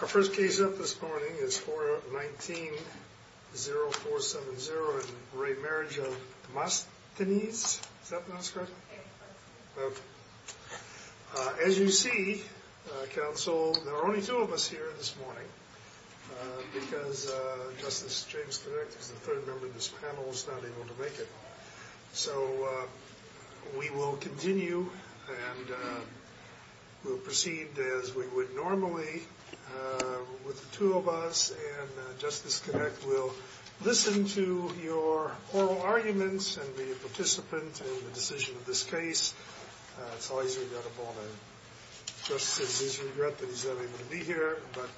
Our first case up this morning is 419-0470 in re. Marriage of Demosthenes. Is that the last card? Okay. As you see, counsel, there are only two of us here this morning because Justice James Connect is the third member of this panel who is not able to make it. So we will continue and we'll proceed as we would normally with the two of us and Justice Connect will listen to your oral arguments and be a participant in the decision of this case. It's always regrettable. Justice says he's regret that he's not able to be here, but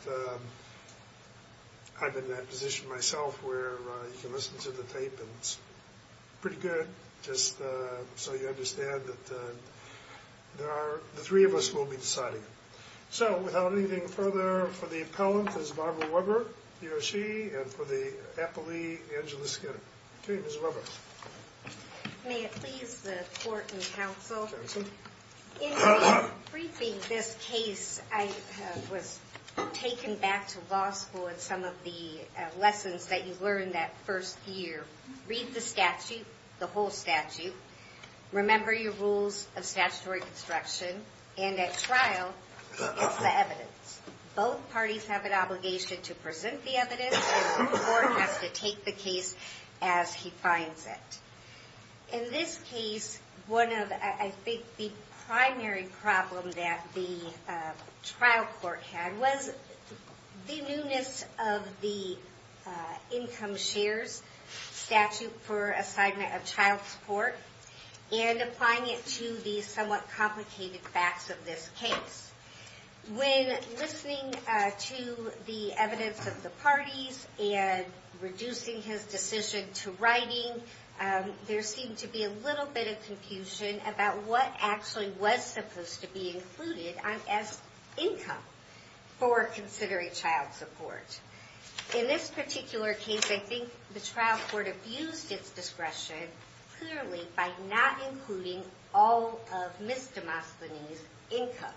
I've been in that position myself where you can listen to the tape and it's pretty good just so you understand that the three of us will be deciding. So without anything further for the appellant, Ms. Barbara Weber, he or she, and for the appellee, Angela Skinner. Okay, Ms. Weber. May it please the court and counsel, in briefing this case, I was taken back to law school and some of the lessons that you learned that first year. Read the statute, the whole statute. Remember your rules of statutory construction. And at trial, it's the evidence. Both parties have an obligation to present the evidence and the court has to take the case as he finds it. In this case, one of, I think, the primary problem that the trial court had was the newness of the income shares statute for assignment of child support and applying it to the somewhat new, the evidence of the parties and reducing his decision to writing. There seemed to be a little bit of confusion about what actually was supposed to be included as income for considering child support. In this particular case, I think the trial court abused its discretion clearly by not including all of Ms. Demosthenes' income.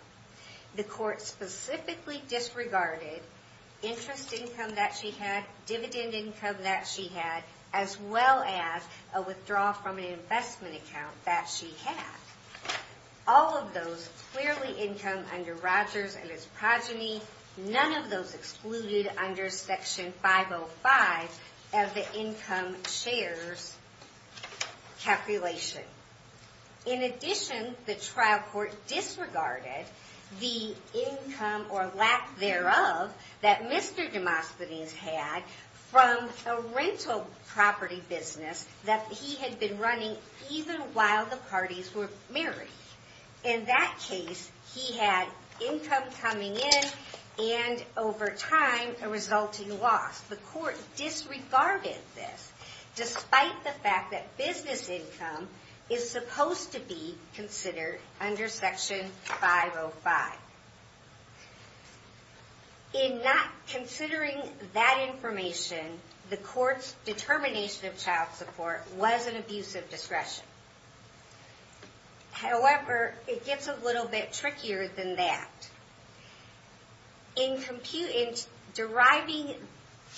The court specifically disregarded interest income that she had, dividend income that she had, as well as a withdrawal from an investment account that she had. All of those clearly income under Rogers and his calculation. In addition, the trial court disregarded the income or lack thereof that Mr. Demosthenes had from a rental property business that he had been running even while the parties were married. In that case, he had income coming in and, over time, a resulting loss. The court disregarded this despite the fact that business income is supposed to be considered under Section 505. In not considering that information, the court's determination of child support was an abuse of discretion. However, it gets a little bit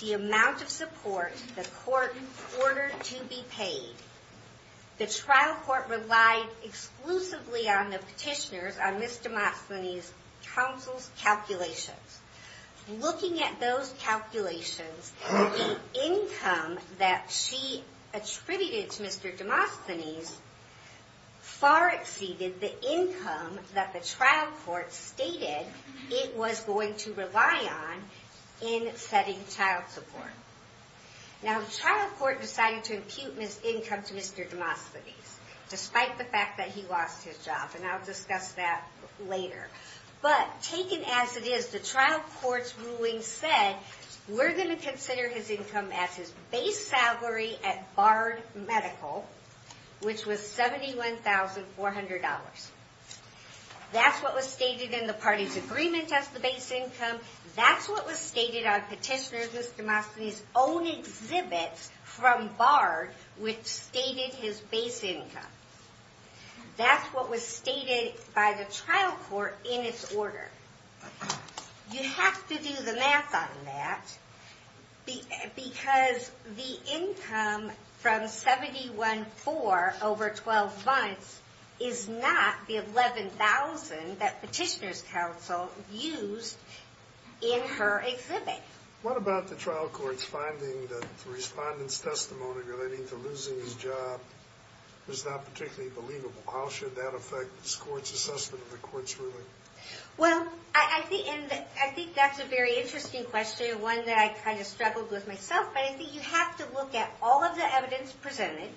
the amount of support the court ordered to be paid. The trial court relied exclusively on the petitioner's, on Ms. Demosthenes' counsel's calculations. Looking at those calculations, the income that she attributed to Mr. Demosthenes far exceeded the income that the trial court stated it was going to rely on in setting child support. Now, the trial court decided to impute Ms. income to Mr. Demosthenes, despite the fact that he lost his job. And I'll discuss that later. But, taken as it is, the trial court's ruling said, we're going to consider his income as his base salary at Bard Medical, which was $71,400. That's what was stated in the party's agreement as the base income. That's what was stated on petitioner's, Ms. Demosthenes' own exhibits from Bard, which stated his base income. That's what was stated by the trial court in its order. You have to do the math on that, because the income from $71,400 over 12 months is not the $11,000 that petitioner's counsel used in her exhibit. What about the trial court's finding that the respondent's testimony relating to losing his job was not particularly believable? How should that affect this court's assessment of the court's ruling? Well, I think that's a very interesting question, one that I kind of struggled with myself. But I think you have to look at all of the evidence presented,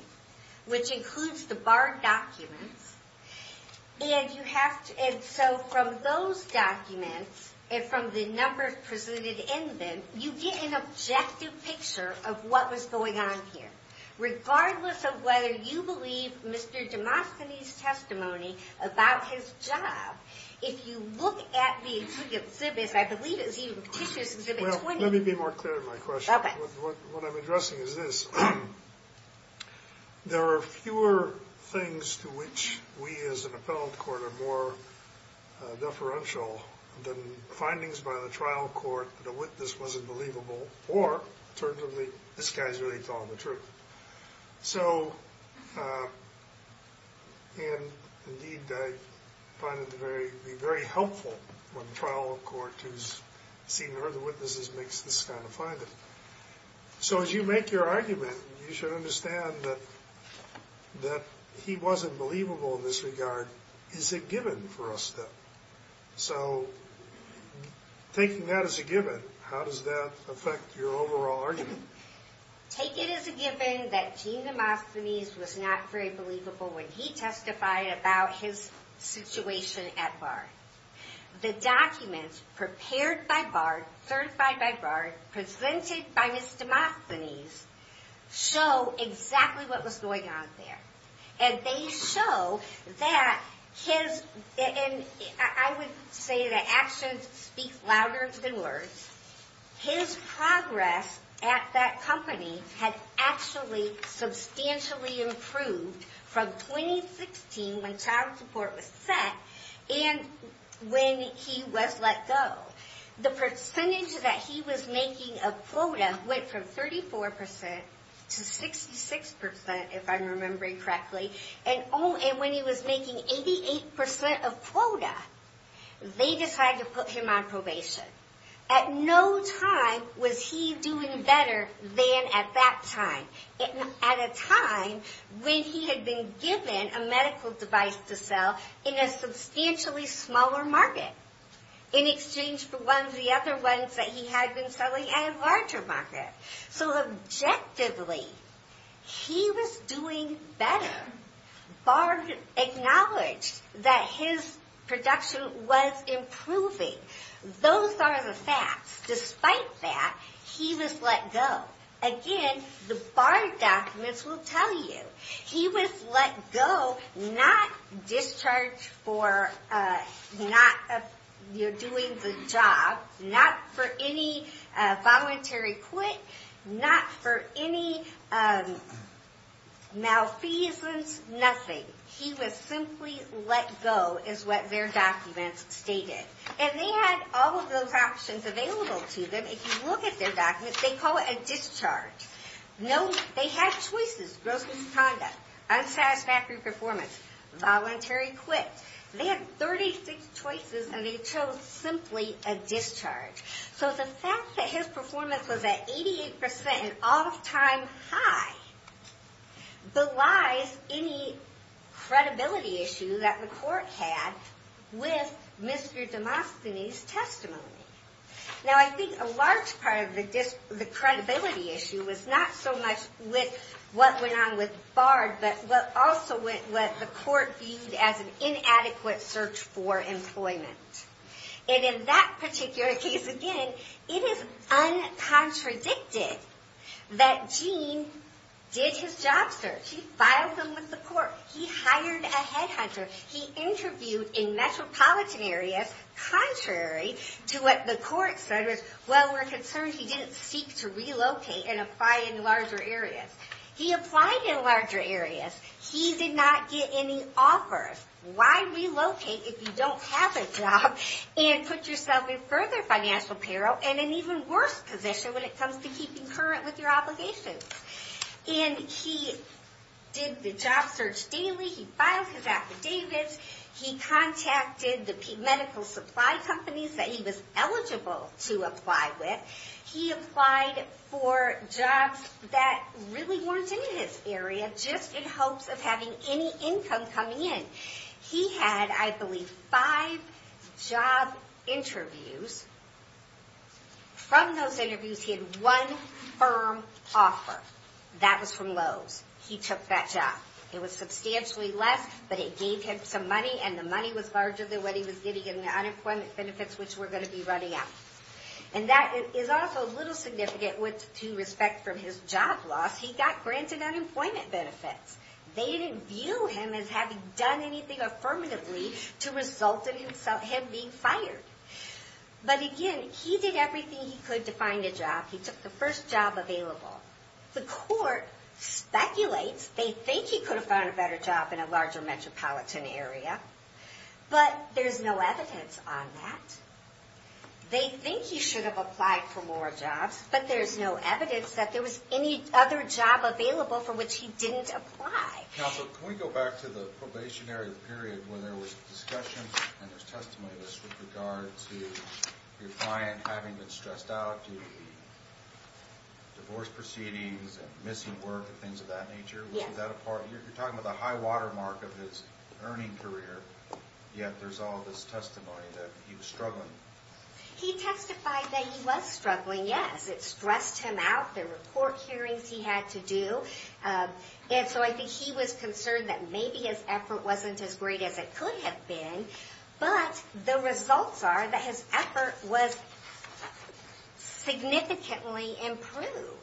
which includes the Bard documents. And so from those documents, and from the numbers presented in them, you get an objective picture of what was going on here. Regardless of whether you believe Mr. Demosthenes' testimony about his job, if you look at the exhibit, I believe Well, let me be more clear in my question. What I'm addressing is this. There are fewer things to which we as an appellate court are more deferential than findings by the trial court that a witness wasn't believable, or turns out this guy's really telling the truth. So, and indeed I find it to be very helpful when the trial court who's seen or heard the witnesses makes this kind of finding. So as you make your argument, you should understand that he wasn't believable in this regard. Is it given for us, though? So, taking that as a given, how does that affect your overall argument? Take it as a given that Gene Demosthenes was not very believable when he testified about his situation at Bard. The documents prepared by Bard, certified by Bard, presented by Mr. Demosthenes, show exactly what was going on there. And they show that his, and I would say that actions speak louder than words, his progress at that company had actually substantially improved from 2016 when child support was set and when he was let go. The percentage that he was making of quota went from 34% to 66%, if I'm remembering correctly, and when he was making 88% of quota, they decided to put him on probation. At no time was he doing better than at that time. At a time when he had been given a medical device to sell in a substantially smaller market in exchange for one of the other ones that he had been selling at a larger market. So, objectively, he was doing better. Bard acknowledged that his production was improving. Those are the facts. Despite that, he was let go. Again, the Bard documents will tell you. He was let go, not discharged for not doing the job, not for any voluntary quit, not for any malfeasance, nothing. He was simply let go is what their documents stated. And they had all of those options available to them. If you look at their documents, they call it a discharge. No, they had choices, gross misconduct, unsatisfactory performance, voluntary quit. They had 36 choices and they chose simply a discharge. So the fact that his performance was at 88% and off time high belies any credibility issue that the court had with Mr. Demosthenes' testimony. Now, I think a large part of the credibility issue was not so much with what went on with Bard, but also with what the court viewed as an inadequate search for employment. And in that particular case, again, it is uncontradicted that Gene did his job search. He filed him with the court. He hired a head hunter. He interviewed in metropolitan areas, contrary to what the court said was, well, we're concerned he didn't seek to relocate and apply in larger areas. He applied in larger areas. He did not get any offers. Why relocate if you don't have a job and put yourself in further financial peril and in an even worse position when it comes to keeping current with your obligations? And he did the job search daily. He filed his affidavits. He was eligible to apply with. He applied for jobs that really weren't in his area, just in hopes of having any income coming in. He had, I believe, five job interviews. From those interviews, he had one firm offer. That was from Lowe's. He took that job. It was substantially less, but it gave him some money, and the money was larger than what he was getting in the unemployment benefits, which were going to be running out. And that is also a little significant with respect to his job loss. He got granted unemployment benefits. They didn't view him as having done anything affirmatively to result in him being fired. But again, he did everything he could to find a job. He took the first job available. The court speculates they think he could have found a better job in a larger metropolitan area, but there's no evidence on that. They think he should have applied for more jobs, but there's no evidence that there was any other job available for which he didn't apply. Counselor, can we go back to the probationary period where there was discussions and there's testimonies with regard to your client having been stressed out due to the divorce proceedings and missing work and things of that nature? Yeah. You're talking about the high-water mark of his earning career, yet there's all this testimony that he was struggling. He testified that he was struggling, yes. It stressed him out. There were court hearings he had to do. And so I think he was concerned that maybe his effort wasn't as great as it could have been, but the results are that his effort was significantly improved.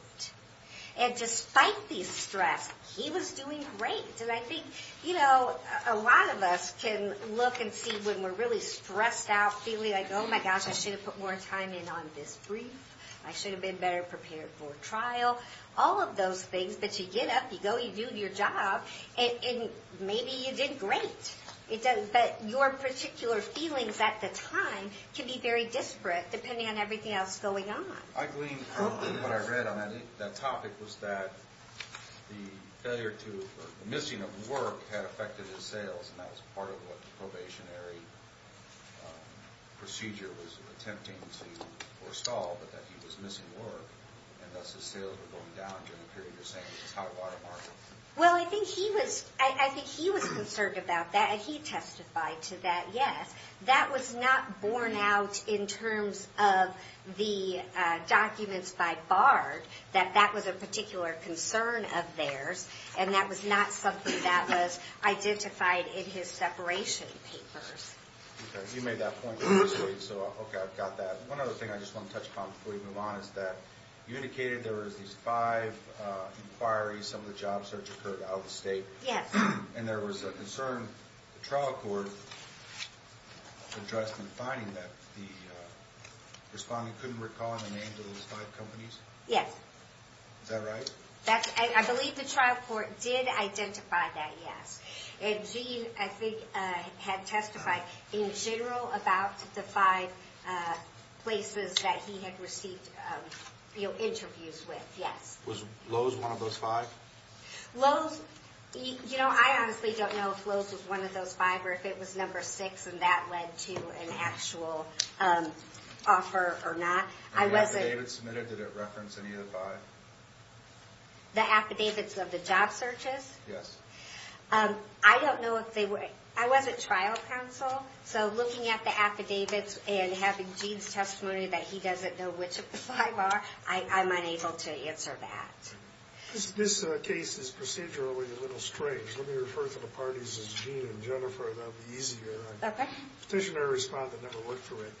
And despite the stress, he was doing great. And I think a lot of us can look and see when we're really stressed out, feeling like, oh my gosh, I should have put more time in on this brief. I should have been better prepared for trial. All of those things, but you get up, you go, you do your job, and maybe you did great. But your particular feelings at the time can be very disparate depending on everything else going on. I gleaned from what I read on that topic was that the failure to, or the missing of work had affected his sales, and that was part of what the probationary procedure was attempting to install, but that he was missing work, and thus his sales were going down during the period of his high-water mark. Well, I think he was concerned about that, and he testified to that, yes. That was not in terms of the documents by Bard, that that was a particular concern of theirs, and that was not something that was identified in his separation papers. Okay, you made that point, so okay, I've got that. One other thing I just want to touch upon before we move on is that you indicated there was these five inquiries, some of the job search occurred out of state. Yes. And there was a concern the trial court addressed in finding that the respondent couldn't recall the names of those five companies? Yes. Is that right? I believe the trial court did identify that, yes. And he, I think, had testified in general about the five places that he had received interviews with, yes. Was Lowe's one of those five? Lowe's, you know, I honestly don't know if Lowe's was one of those five, or if it was number six, and that led to an actual offer or not. I wasn't And the affidavits submitted, did it reference any of the five? The affidavits of the job searches? Yes. I don't know if they were, I wasn't trial counsel, so looking at the affidavits and having Gene's testimony that he doesn't know which of the five are, I'm unable to answer that. This case is procedurally a little strange. Let me refer to the parties as Gene and Jennifer, that'll be easier. Okay. Petitioner and respondent never worked through it.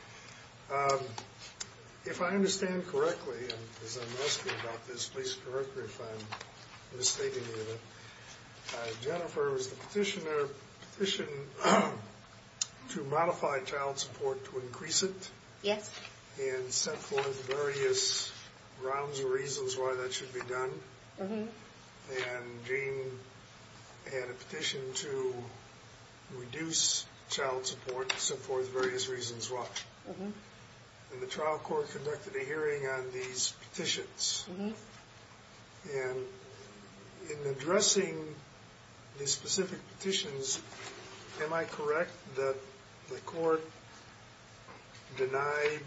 If I understand correctly, and as I'm asking about this, please correct me if I'm mistaking you, Jennifer, was the petitioner petitioned to modify child support to increase it? Yes. And set forth various grounds or reasons why that should be done. Mm-hmm. And Gene had a petition to reduce child support and set forth various reasons why. Mm-hmm. And the trial court conducted a hearing on these petitions. Mm-hmm. And in addressing the specific petitions, am I correct that the court denied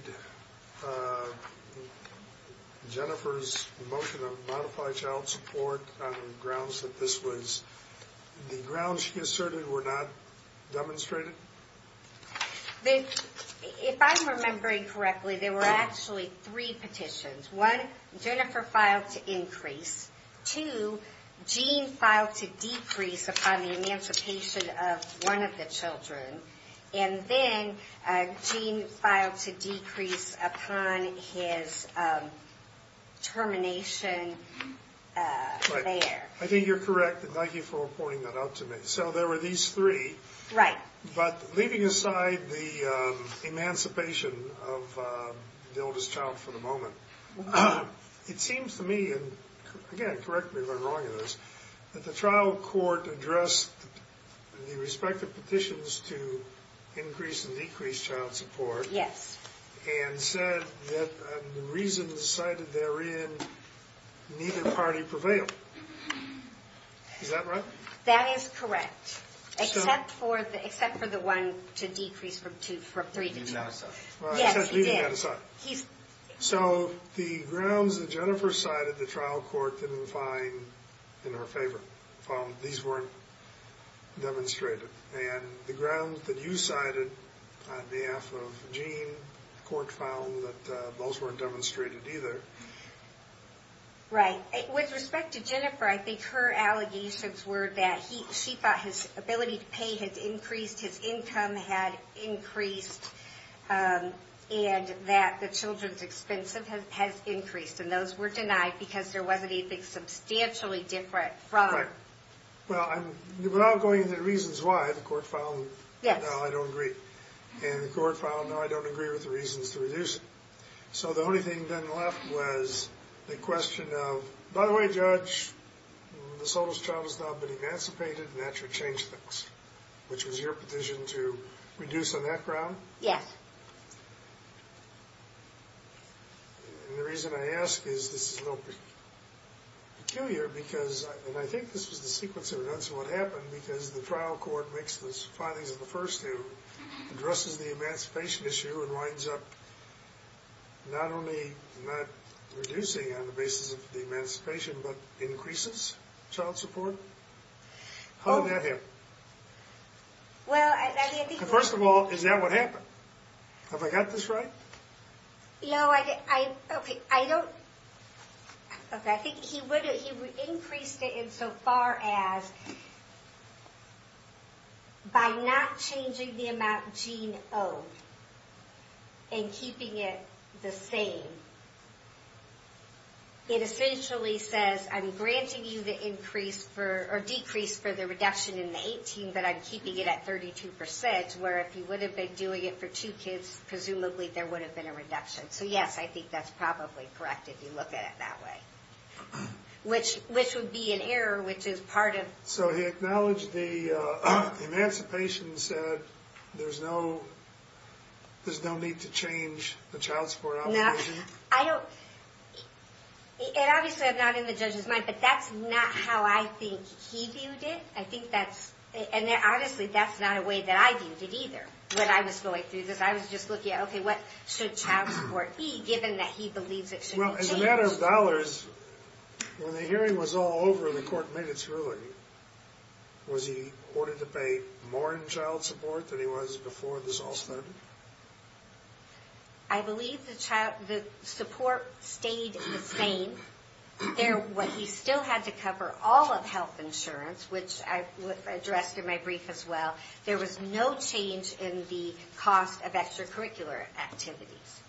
Jennifer's motion of modified child support on grounds that this was the grounds she asserted were not demonstrated? If I'm remembering correctly, there were actually three petitions. One, Jennifer filed to increase. Two, Gene filed to decrease upon the emancipation of one of the children. And then Gene filed to decrease upon his termination there. I think you're correct. Thank you for pointing that out to me. So there were these three. Right. But leaving aside the emancipation of the oldest child for the moment, it seems to me, and again, correct me if I'm wrong in this, that the trial court addressed the respective petitions to increase and decrease child support. Yes. And said that the reasons cited therein neither party prevailed. Is that right? That is correct. Except for the one to decrease from three to two. Leaving that aside. Yes, he did. So the grounds that Jennifer cited, the trial court didn't find in her favor. These weren't demonstrated. And the grounds that you cited on behalf of Gene, the court found that those weren't demonstrated either. Right. With respect to Jennifer, I think her allegations were that she thought his ability to pay had increased, his income had increased, and that the children's expense has increased. And those were denied because there wasn't anything substantially different from. Right. Well, without going into the reasons why, the court found, no, I don't agree. And the court found, no, I don't agree with the reasons to reduce it. So the only thing that then left was the question of, by the way, Judge, this old child has now been emancipated and that should change things, which was your petition to reduce on that ground. Yes. And the reason I ask is this is a little peculiar because, and I think this was the sequence of events of what happened, because the trial court makes those findings of the first two, addresses the emancipation issue and winds up not only not reducing on the basis of the emancipation, but increases child support. How did that happen? Well, I think. First of all, is that what happened? Have I got this right? No, I don't. Okay, I think he increased it insofar as by not changing the amount Gene owed and keeping it the same. It essentially says, I'm granting you the increase for, or decrease for the reduction in the 18, but I'm keeping it at 32%, where if he would have been doing it for two kids, presumably there would have been a reduction. So yes, I think that's probably correct if you look at it that way, which would be an error, which is part of. So he acknowledged the emancipation and said there's no need to change the child support obligation? I don't, and obviously I'm not in the judge's mind, but that's not how I think he viewed it. I think that's, and honestly, that's not a way that I viewed it either when I was going through this. I was just looking at, okay, what should child support be, given that he believes it should be changed? Well, as a matter of dollars, when the hearing was all over and the court made its ruling, was he ordered to pay more in child support than he was before this all started? I believe the support stayed the same. He still had to cover all of health insurance, which I addressed in my brief as well. There was no change in the cost of extracurricular activities.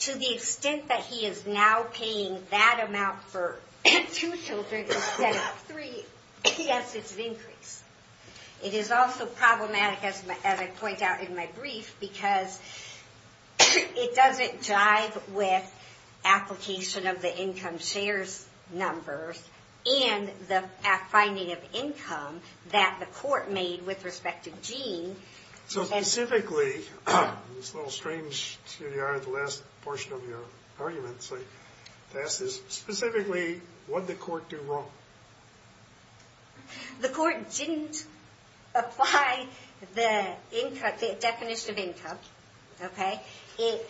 To the extent that he is now paying that amount for two children instead of three, yes, it's an increase. It is also problematic, as I point out in my brief, because it doesn't jive with application of the income shares numbers and the finding of income that the court made with respect to Gene. So specifically, this little strange, excuse me, out of the last portion of your argument, so to ask this specifically, what did the court do wrong? The court didn't apply the definition of income. It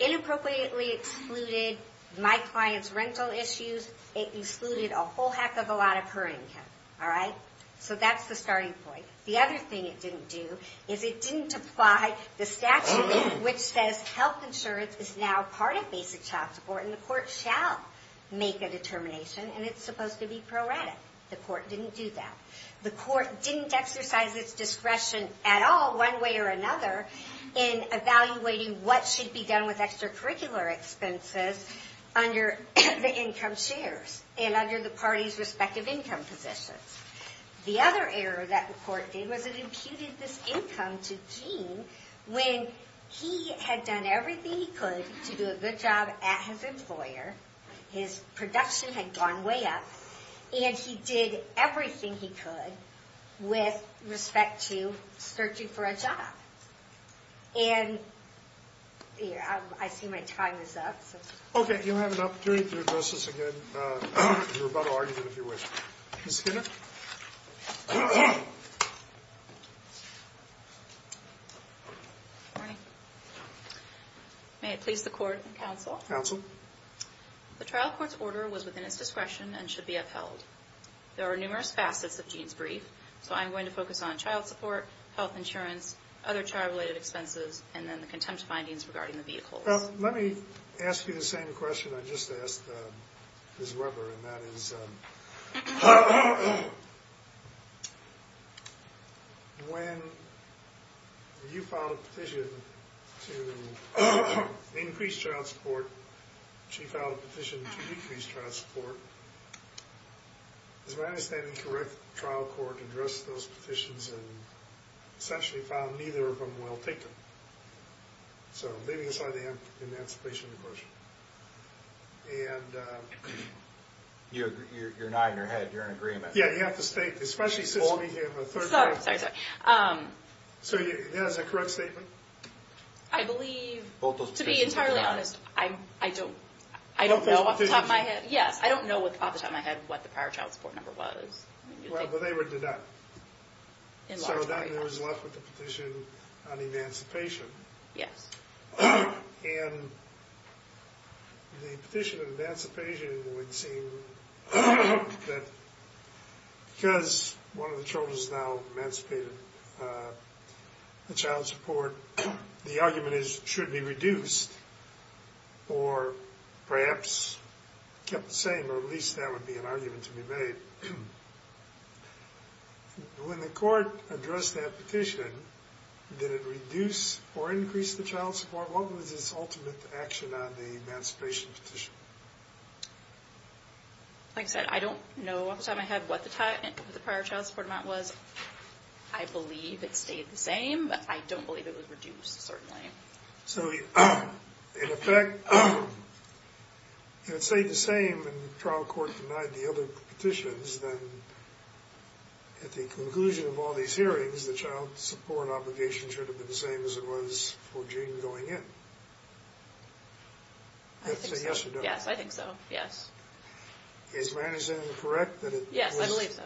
inappropriately excluded my client's rental issues. It excluded a whole heck of a lot of her income. So that's the starting point. The other thing it didn't do is it didn't apply the statute which says health insurance is now part of basic child support and the court shall make a determination, and it's supposed to be proratic. The court didn't do that. The court didn't exercise its discretion at all, one way or another, in evaluating what should be done with extracurricular expenses under the income shares and under the parties' respective income positions. The other error that the court did was it imputed this income to Gene when he had done everything he could to do a good job at his employer, his production had gone way up, and he did everything he could with respect to searching for a job. And I see my time is up. Okay, you'll have an opportunity to address this again in your rebuttal argument if you wish. Ms. Skinner? Good morning. May it please the court and counsel. Counsel. The trial court's order was within its discretion and should be upheld. There are numerous facets of Gene's brief, so I'm going to focus on child support, health insurance, other child-related expenses, and then the contempt findings regarding the vehicles. Let me ask you the same question I just asked Ms. Weber, and that is when you filed a petition to increase child support, she filed a petition to decrease child support. Is my understanding correct that the trial court addressed those petitions and essentially found neither of them well taken? So leaving aside the emancipation question. And you're nodding your head, you're in agreement. Yeah, you have to state, especially since we have a third party. Sorry, sorry, sorry. So is that a correct statement? I believe, to be entirely honest, I don't know off the top of my head. Yes, I don't know off the top of my head what the prior child support number was. Well, they were denied. So then it was left with the petition on emancipation. Yes. And the petition on emancipation would seem that because one of the children is now emancipated, the child support, the argument is should be reduced or perhaps kept the same, or at least that would be an argument to be made. When the court addressed that petition, did it reduce or increase the child support? What was its ultimate action on the emancipation petition? Like I said, I don't know off the top of my head what the prior child support amount was. I believe it stayed the same, but I don't believe it was reduced, certainly. So in effect, if it stayed the same and the trial court denied the other petitions, then at the conclusion of all these hearings, the child support obligation should have been the same as it was for Gene going in. I think so. Yes, I think so. Yes. Is my understanding correct that it was? Yes, I believe so.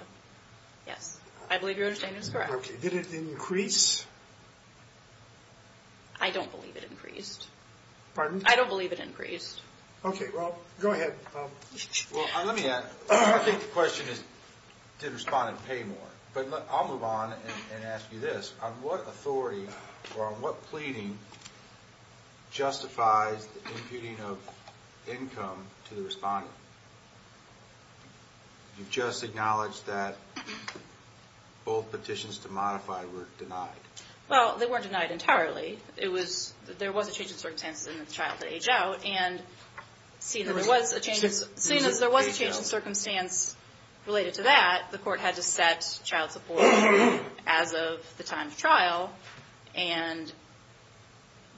Yes. I believe your understanding is correct. Did it increase? I don't believe it increased. Pardon? I don't believe it increased. Okay, well, go ahead. Well, let me add, I think the question is did the respondent pay more? But I'll move on and ask you this. On what authority or on what pleading justifies the imputing of income to the respondent? You just acknowledged that both petitions to modify were denied. Well, they weren't denied entirely. There was a change in circumstances in the trial to age out, and seeing as there was a change in circumstance related to that, the court had to set child support as of the time of trial, and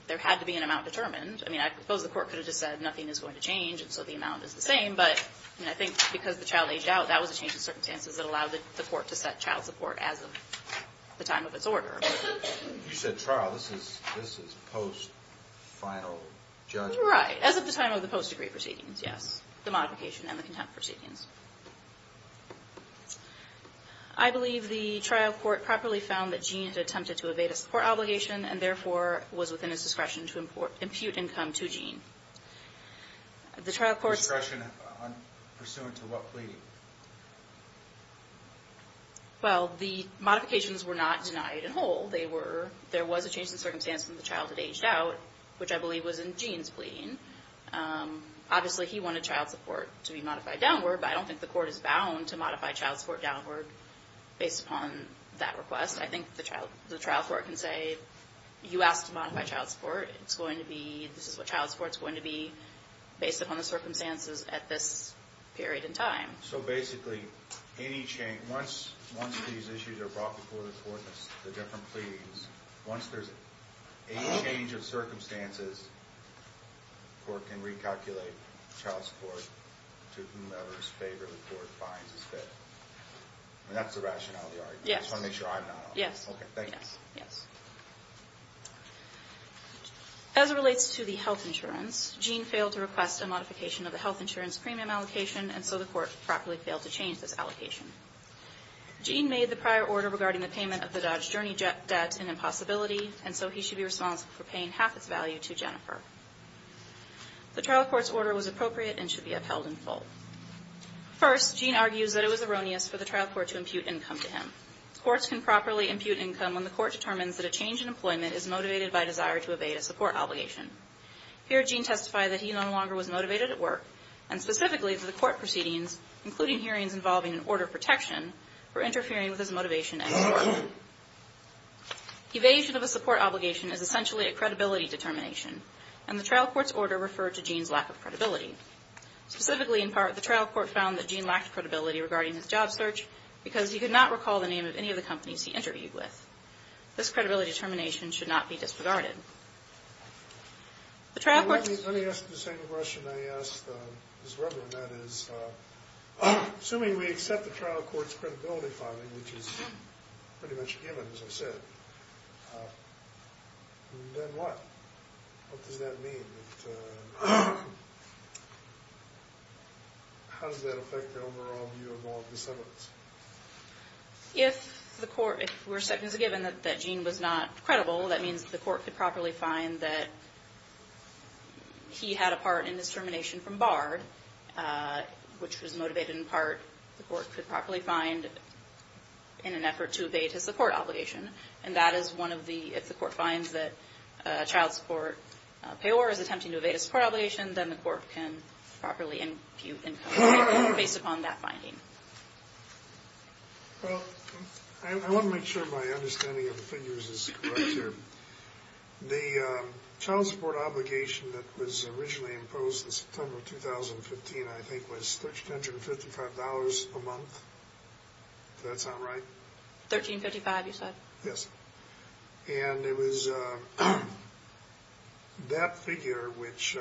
there had to be an amount determined. I mean, I suppose the court could have just said nothing is going to change, and so the amount is the same, but I think because the child aged out, that was a change in circumstances that allowed the court to set child support as of the time of its order. You said trial. This is post-final judgment. Right, as of the time of the post-degree proceedings, yes, the modification and the contempt proceedings. I believe the trial court properly found that Gene had attempted to evade a support obligation and therefore was within his discretion to impute income to Gene. Discretion pursuant to what plea? Well, the modifications were not denied in whole. There was a change in circumstance when the child had aged out, which I believe was in Gene's plea. Obviously, he wanted child support to be modified downward, but I don't think the court is bound to modify child support downward based upon that request. I think the trial court can say, you asked to modify child support. It's going to be, this is what child support is going to be based upon the circumstances at this period in time. So basically, once these issues are brought before the court, the different pleas, once there's a change of circumstances, the court can recalculate child support to whomever's favor the court finds is fit. And that's the rationale of the argument. Yes. I just want to make sure I'm not wrong. Yes. Okay, thank you. Yes, yes. As it relates to the health insurance, Gene failed to request a modification of the health insurance premium allocation, and so the court properly failed to change this allocation. Gene made the prior order regarding the payment of the Dodge Journey debt in impossibility, and so he should be responsible for paying half its value to Jennifer. The trial court's order was appropriate and should be upheld in full. First, Gene argues that it was erroneous for the trial court to impute income to him. Courts can properly impute income when the court determines that a change in employment is motivated by desire to evade a support obligation. Here, Gene testified that he no longer was motivated at work, and specifically that the court proceedings, including hearings involving an order of protection, were interfering with his motivation at work. Evasion of a support obligation is essentially a credibility determination, and the trial court's order referred to Gene's lack of credibility. Specifically, in part, the trial court found that Gene lacked credibility regarding his job search because he could not recall the name of any of the companies he interviewed with. This credibility determination should not be disregarded. Let me ask the same question I asked Ms. Rubin, that is, assuming we accept the trial court's credibility filing, which is pretty much given, as I said, then what? What does that mean? And how does that affect the overall view of all of the subjects? If we're accepting as a given that Gene was not credible, that means the court could properly find that he had a part in his termination from BARD, which was motivated in part, the court could properly find, in an effort to evade his support obligation, and that is one of the, if the court finds that child support payors attempting to evade a support obligation, then the court can properly impute income based upon that finding. Well, I want to make sure my understanding of the figures is correct here. The child support obligation that was originally imposed in September of 2015, I think, was $1,355 a month. Did that sound right? $1,355, you said? Yes. And it was that figure, which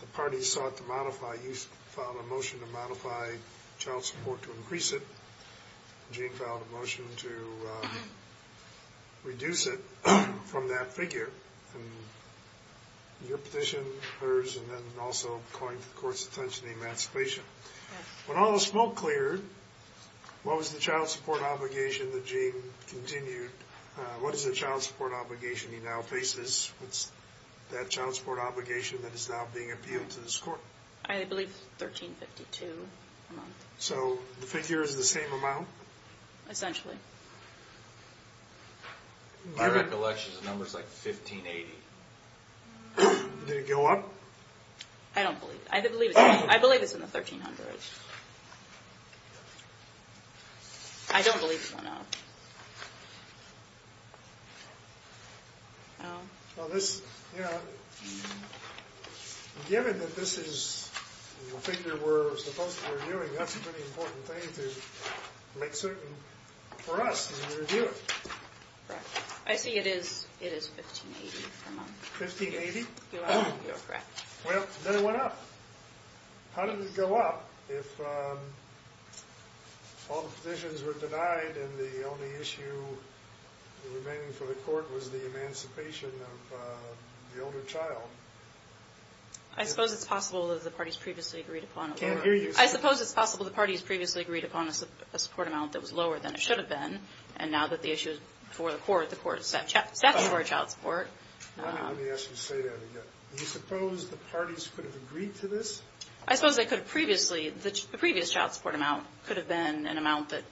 the parties sought to modify, you filed a motion to modify child support to increase it. Gene filed a motion to reduce it from that figure. And your petition, hers, and then also calling for the court's attention to emancipation. When all the smoke cleared, what was the child support obligation that Gene continued? What is the child support obligation he now faces? What's that child support obligation that is now being appealed to this court? I believe $1,352 a month. So the figure is the same amount? Essentially. My recollection is the number is like $1,580. Did it go up? I don't believe it. I believe it's in the $1,300. I don't believe it went up. Given that this is a figure we're supposed to be reviewing, that's a pretty important thing to make certain for us when we review it. Correct. I see it is $1,580 a month. $1,580? You are correct. Well, then it went up. How did it go up if all the petitions were denied and the only issue remaining for the court was the emancipation of the older child? I suppose it's possible that the parties previously agreed upon a lower amount. I can't hear you. I suppose it's possible the parties previously agreed upon a support amount that was lower than it should have been. And now that the issue is before the court, the court is set for a child support. Let me ask you to say that again. Do you suppose the parties could have agreed to this? I suppose they could have previously. The previous child support amount could have been an amount that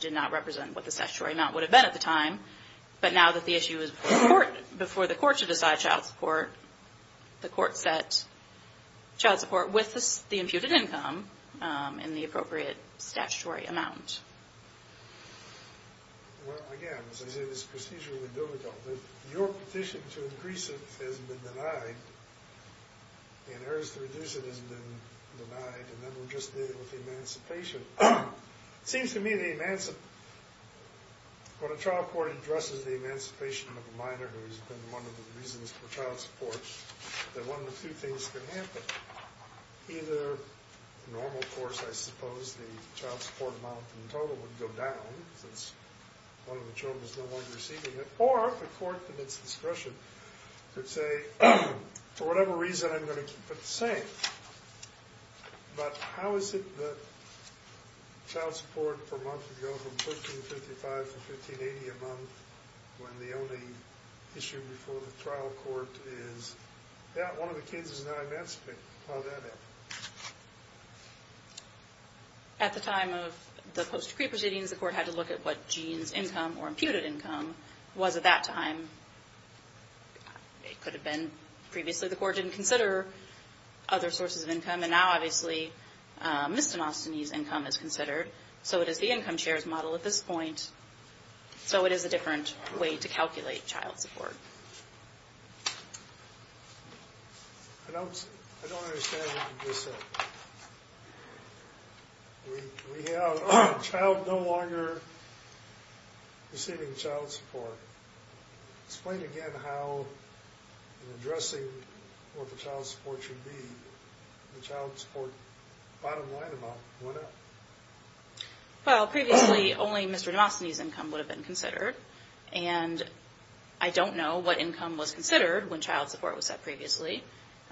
did not represent what the statutory amount would have been at the time. But now that the issue is before the court to decide child support, the court set child support with the imputed income in the appropriate statutory amount. Well, again, as I say, this is procedurally difficult. If your petition to increase it has been denied, and yours to reduce it has been denied, and then we'll just deal with the emancipation. It seems to me when a trial court addresses the emancipation of a minor who has been one of the reasons for child support, that one of the few things can happen. Either normal course, I suppose, the child support amount in total would go down since one of the children is no longer receiving it, or the court at its discretion could say, for whatever reason, I'm going to keep it the same. But how is it that child support per month would go from $13.55 to $15.80 a month when the only issue before the trial court is that one of the kids is not emancipated? How would that happen? At the time of the post-decree proceedings, the court had to look at what Gene's income or imputed income was at that time. It could have been previously the court didn't consider other sources of income, and now, obviously, Mr. Nostany's income is considered, so it is the income share's model at this point. So it is a different way to calculate child support. I don't understand what you're saying. We have a child no longer receiving child support. Explain again how, in addressing what the child support should be, the child support bottom line amount went up. Well, previously, only Mr. Nostany's income would have been considered, and I don't know what income was considered when child support was set previously.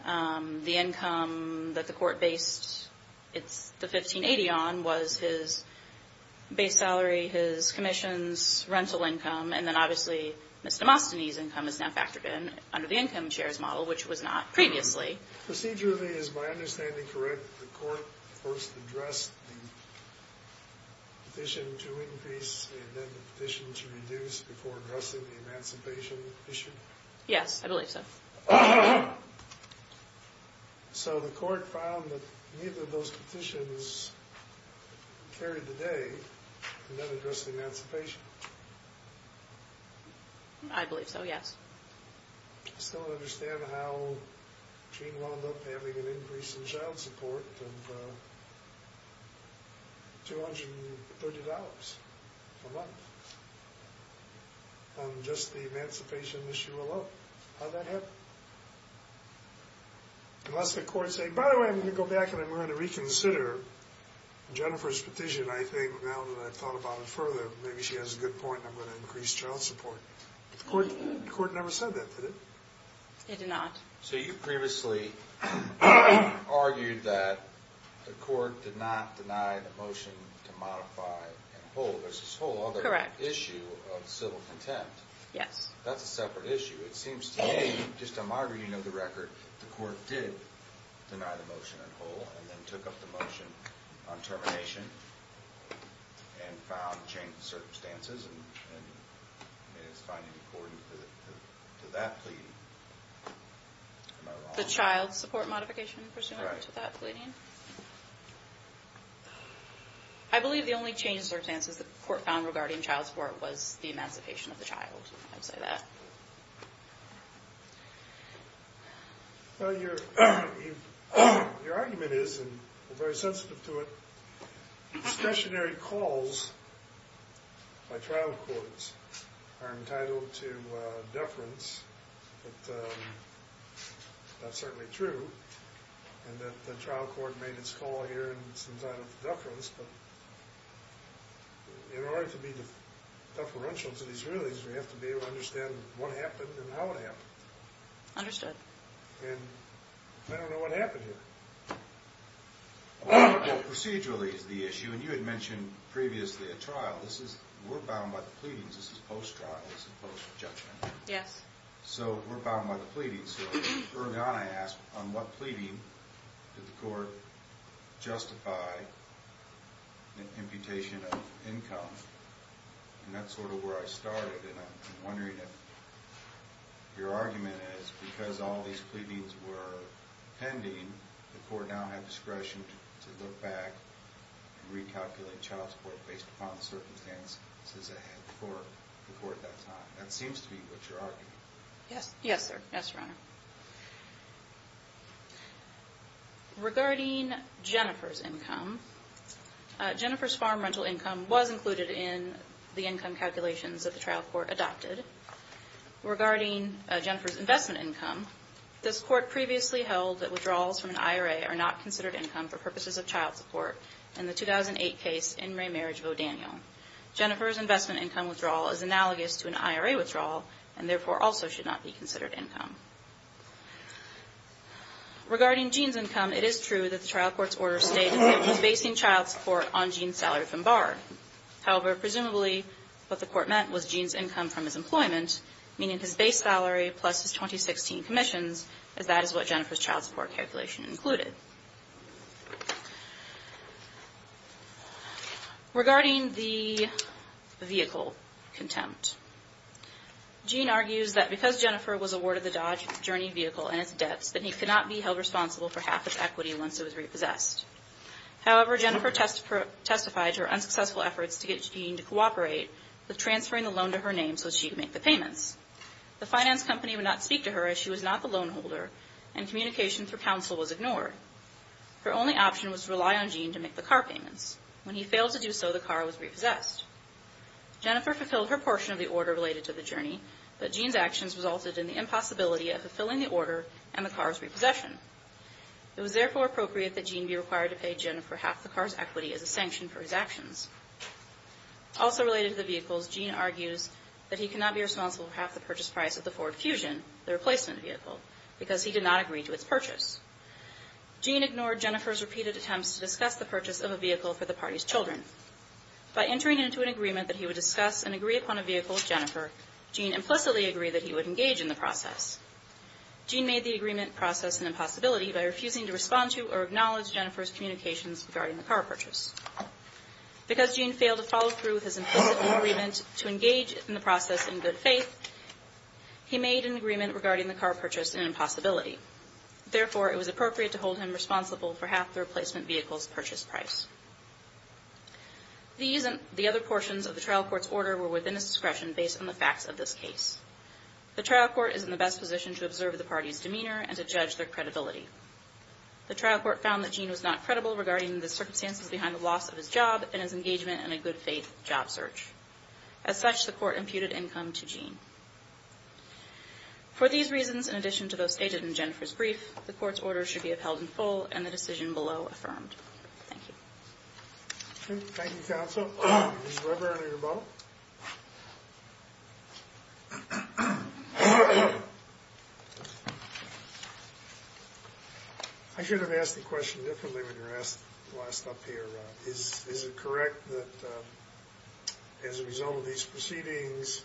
The income that the court based the $15.80 on was his base salary, his commission's rental income, and then, obviously, Mr. Nostany's income is now factored in under the income share's model, which was not previously. Procedurally, is my understanding correct that the court first addressed the petition to increase and then the petition to reduce before addressing the emancipation issue? Yes, I believe so. So the court found that neither of those petitions carried the day, and then addressed the emancipation? I believe so, yes. I still don't understand how Gene wound up having an increase in child support of $230 a month on just the emancipation issue alone. How'd that happen? Unless the court said, by the way, I'm going to go back and I'm going to reconsider Jennifer's petition, I think, now that I've thought about it further, maybe she has a good point, and I'm going to increase child support. The court never said that, did it? It did not. So you previously argued that the court did not deny the motion to modify and hold this whole other issue of civil contempt. Yes. That's a separate issue. It seems to me, just on my reading of the record, the court did deny the motion and hold and then took up the motion on termination and found change in circumstances and is finding accordance to that pleading. The child support modification pursuant to that pleading? I believe the only changes or advances the court found regarding child support was the emancipation of the child. I would say that. Your argument is, and we're very sensitive to it, stationary calls by trial courts are entitled to deference. That's certainly true. The trial court made its call here and it's entitled to deference, but in order to be deferential to these rulings, we have to be able to understand what happened and how it happened. Understood. And I don't know what happened here. Procedurally is the issue, and you had mentioned previously a trial. We're bound by the pleadings. This is post-trial, this is post-judgment. Yes. So we're bound by the pleadings. Early on I asked, on what pleading did the court justify an imputation of income? And that's sort of where I started, and I'm wondering if your argument is because all these pleadings were pending, the court now had discretion to look back and recalculate child support based upon the circumstances ahead for the court at that time. That seems to be what you're arguing. Yes, sir. Yes, Your Honor. Regarding Jennifer's income, Jennifer's farm rental income was included in the income calculations that the trial court adopted. Regarding Jennifer's investment income, this court previously held that withdrawals from an IRA are not considered income for purposes of child support in the 2008 case in Raymarriage v. O'Daniel. Jennifer's investment income withdrawal is analogous to an IRA withdrawal and therefore also should not be considered income. Regarding Gene's income, it is true that the trial court's order states that it was basing child support on Gene's salary from BAR. However, presumably what the court meant was Gene's income from his employment, meaning his base salary plus his 2016 commissions, as that is what Jennifer's child support calculation included. Regarding the vehicle contempt, Gene argues that because Jennifer was awarded the Dodge Journey vehicle and its debts, that he could not be held responsible for half its equity once it was repossessed. However, Jennifer testified to her unsuccessful efforts to get Gene to cooperate with transferring the loan to her name so she could make the payments. The finance company would not speak to her as she was not the loan holder and communication through counsel was ignored. Her only option was to rely on Gene to make the car payments. When he failed to do so, the car was repossessed. Jennifer fulfilled her portion of the order related to the journey, but Gene's actions resulted in the impossibility of fulfilling the order and the car's repossession. It was therefore appropriate that Gene be required to pay Jennifer half the car's equity as a sanction for his actions. Also related to the vehicles, Gene argues that he could not be responsible for half the purchase price of the Ford Fusion, the replacement vehicle, because he did not agree to its purchase. Gene ignored Jennifer's repeated attempts to discuss the purchase of a vehicle for the party's children. By entering into an agreement that he would discuss and agree upon a vehicle with Jennifer, Gene implicitly agreed that he would engage in the process. Gene made the agreement process an impossibility by refusing to respond to or acknowledge Jennifer's communications regarding the car purchase. Because Gene failed to follow through with his implicit agreement to engage in the process in good faith, he made an agreement regarding the car purchase an impossibility. Therefore, it was appropriate to hold him responsible for half the replacement vehicle's purchase price. The other portions of the trial court's order were within his discretion based on the facts of this case. The trial court is in the best position to observe the party's demeanor and to judge their credibility. The trial court found that Gene was not credible regarding the circumstances behind the loss of his job and his engagement in a good faith job search. As such, the court imputed income to Gene. For these reasons, in addition to those stated in Jennifer's brief, the court's order should be upheld in full and the decision below affirmed. Thank you. Thank you, counsel. Mr. Weber, enter your boat. I should have asked the question differently when you were asked last up here. Is it correct that as a result of these proceedings,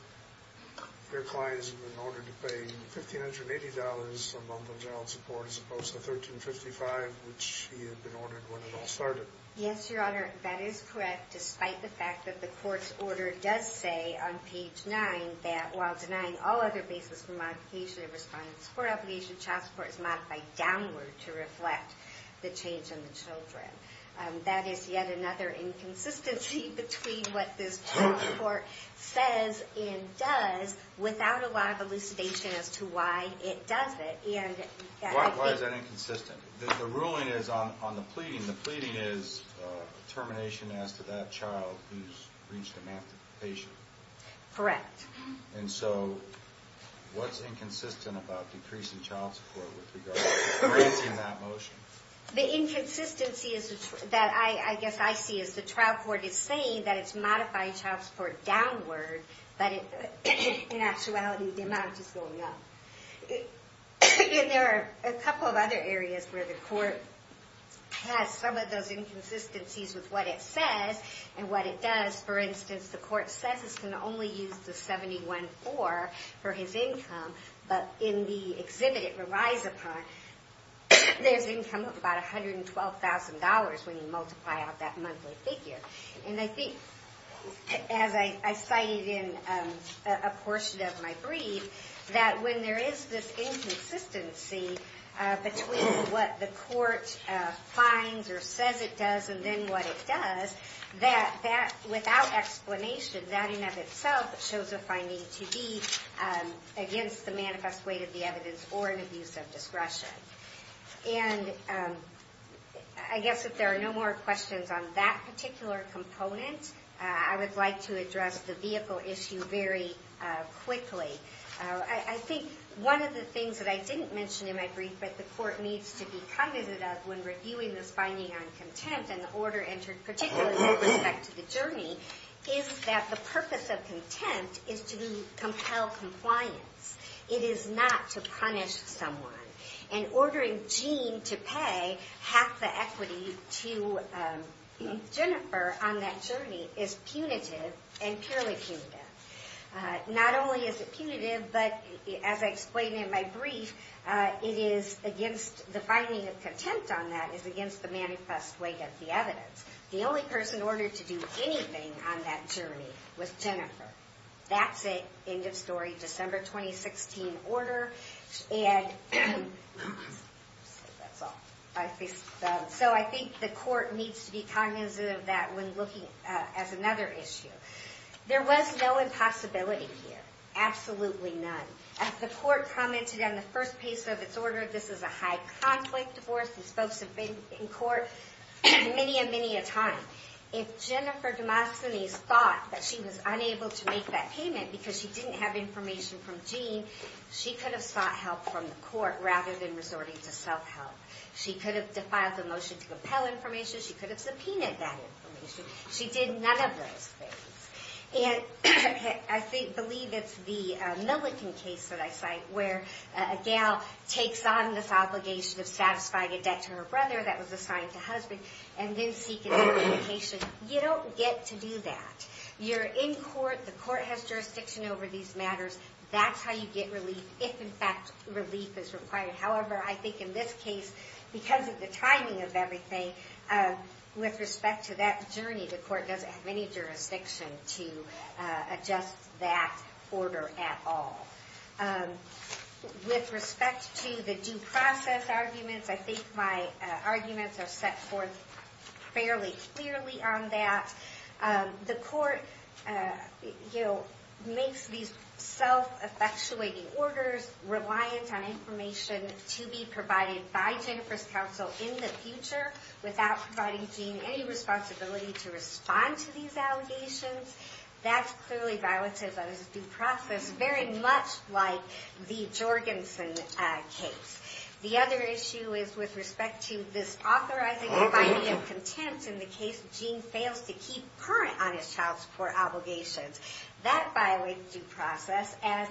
their clients have been ordered to pay $1,580 a month in general support as opposed to $1,355, which he had been ordered when it all started? Yes, Your Honor, that is correct, despite the fact that the court's order does say on page 9 that while denying all other basis for modification of respondents' court application, child support is modified downward to reflect the change in the children. That is yet another inconsistency between what this trial court says and does without a lot of elucidation as to why it does it. Why is that inconsistent? The ruling is on the pleading. The pleading is termination as to that child who's reached emancipation. Correct. And so what's inconsistent about decreasing child support with regard to advancing that motion? The inconsistency that I guess I see is the trial court is saying that it's modifying child support downward, but in actuality the amount is going up. And there are a couple of other areas where the court has some of those inconsistencies with what it says and what it does. For instance, the court says it's going to only use the 714 for his income, but in the exhibit it relies upon, there's income of about $112,000 when you multiply out that monthly figure. And I think, as I cited in a portion of my brief, that when there is this inconsistency between what the court finds or says it does and then what it does, that without explanation that in and of itself shows a finding to be against the manifest weight of the evidence or an abuse of discretion. And I guess if there are no more questions on that particular component, I would like to address the vehicle issue very quickly. I think one of the things that I didn't mention in my brief but the court needs to be cognizant of when reviewing this finding on contempt and the order entered particularly with respect to the journey, is that the purpose of contempt is to compel compliance. It is not to punish someone. And ordering Gene to pay half the equity to Jennifer on that journey is punitive and purely punitive. Not only is it punitive, but as I explained in my brief, the finding of contempt on that is against the manifest weight of the evidence. The only person ordered to do anything on that journey was Jennifer. That's it. End of story. December 2016 order. And so I think the court needs to be cognizant of that when looking at another issue. There was no impossibility here. Absolutely none. As the court commented on the first piece of its order, this is a high-conflict divorce. These folks have been in court many, many a time. If Jennifer Demosthenes thought that she was unable to make that payment because she didn't have information from Gene, she could have sought help from the court rather than resorting to self-help. She could have defiled the motion to compel information. She could have subpoenaed that information. She did none of those things. And I believe it's the Milliken case that I cite where a gal takes on this obligation of satisfying a debt to her brother that was assigned to her husband, and then seek an implication. You don't get to do that. You're in court. The court has jurisdiction over these matters. That's how you get relief if, in fact, relief is required. However, I think in this case, because of the timing of everything, with respect to that journey, the court doesn't have any jurisdiction to adjust that order at all. With respect to the due process arguments, I think my arguments are set forth fairly clearly on that. The court makes these self-effectuating orders reliant on information to be provided by Jennifer's counsel in the future without providing Gene any responsibility to respond to these allegations. That's clearly violative of his due process, very much like the Jorgensen case. The other issue is with respect to this authorizing or binding of contempt in the case Gene fails to keep current on his child support obligations. That violates due process, and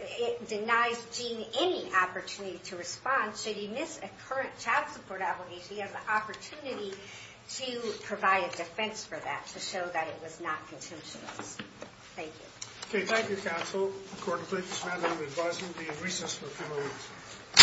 it denies Gene any opportunity to respond. Should he miss a current child support obligation, he has an opportunity to provide a defense for that, to show that it was not contemptuous. Thank you. Okay, thank you, counsel. The court will take this matter into advisement and be in recess for a few more weeks.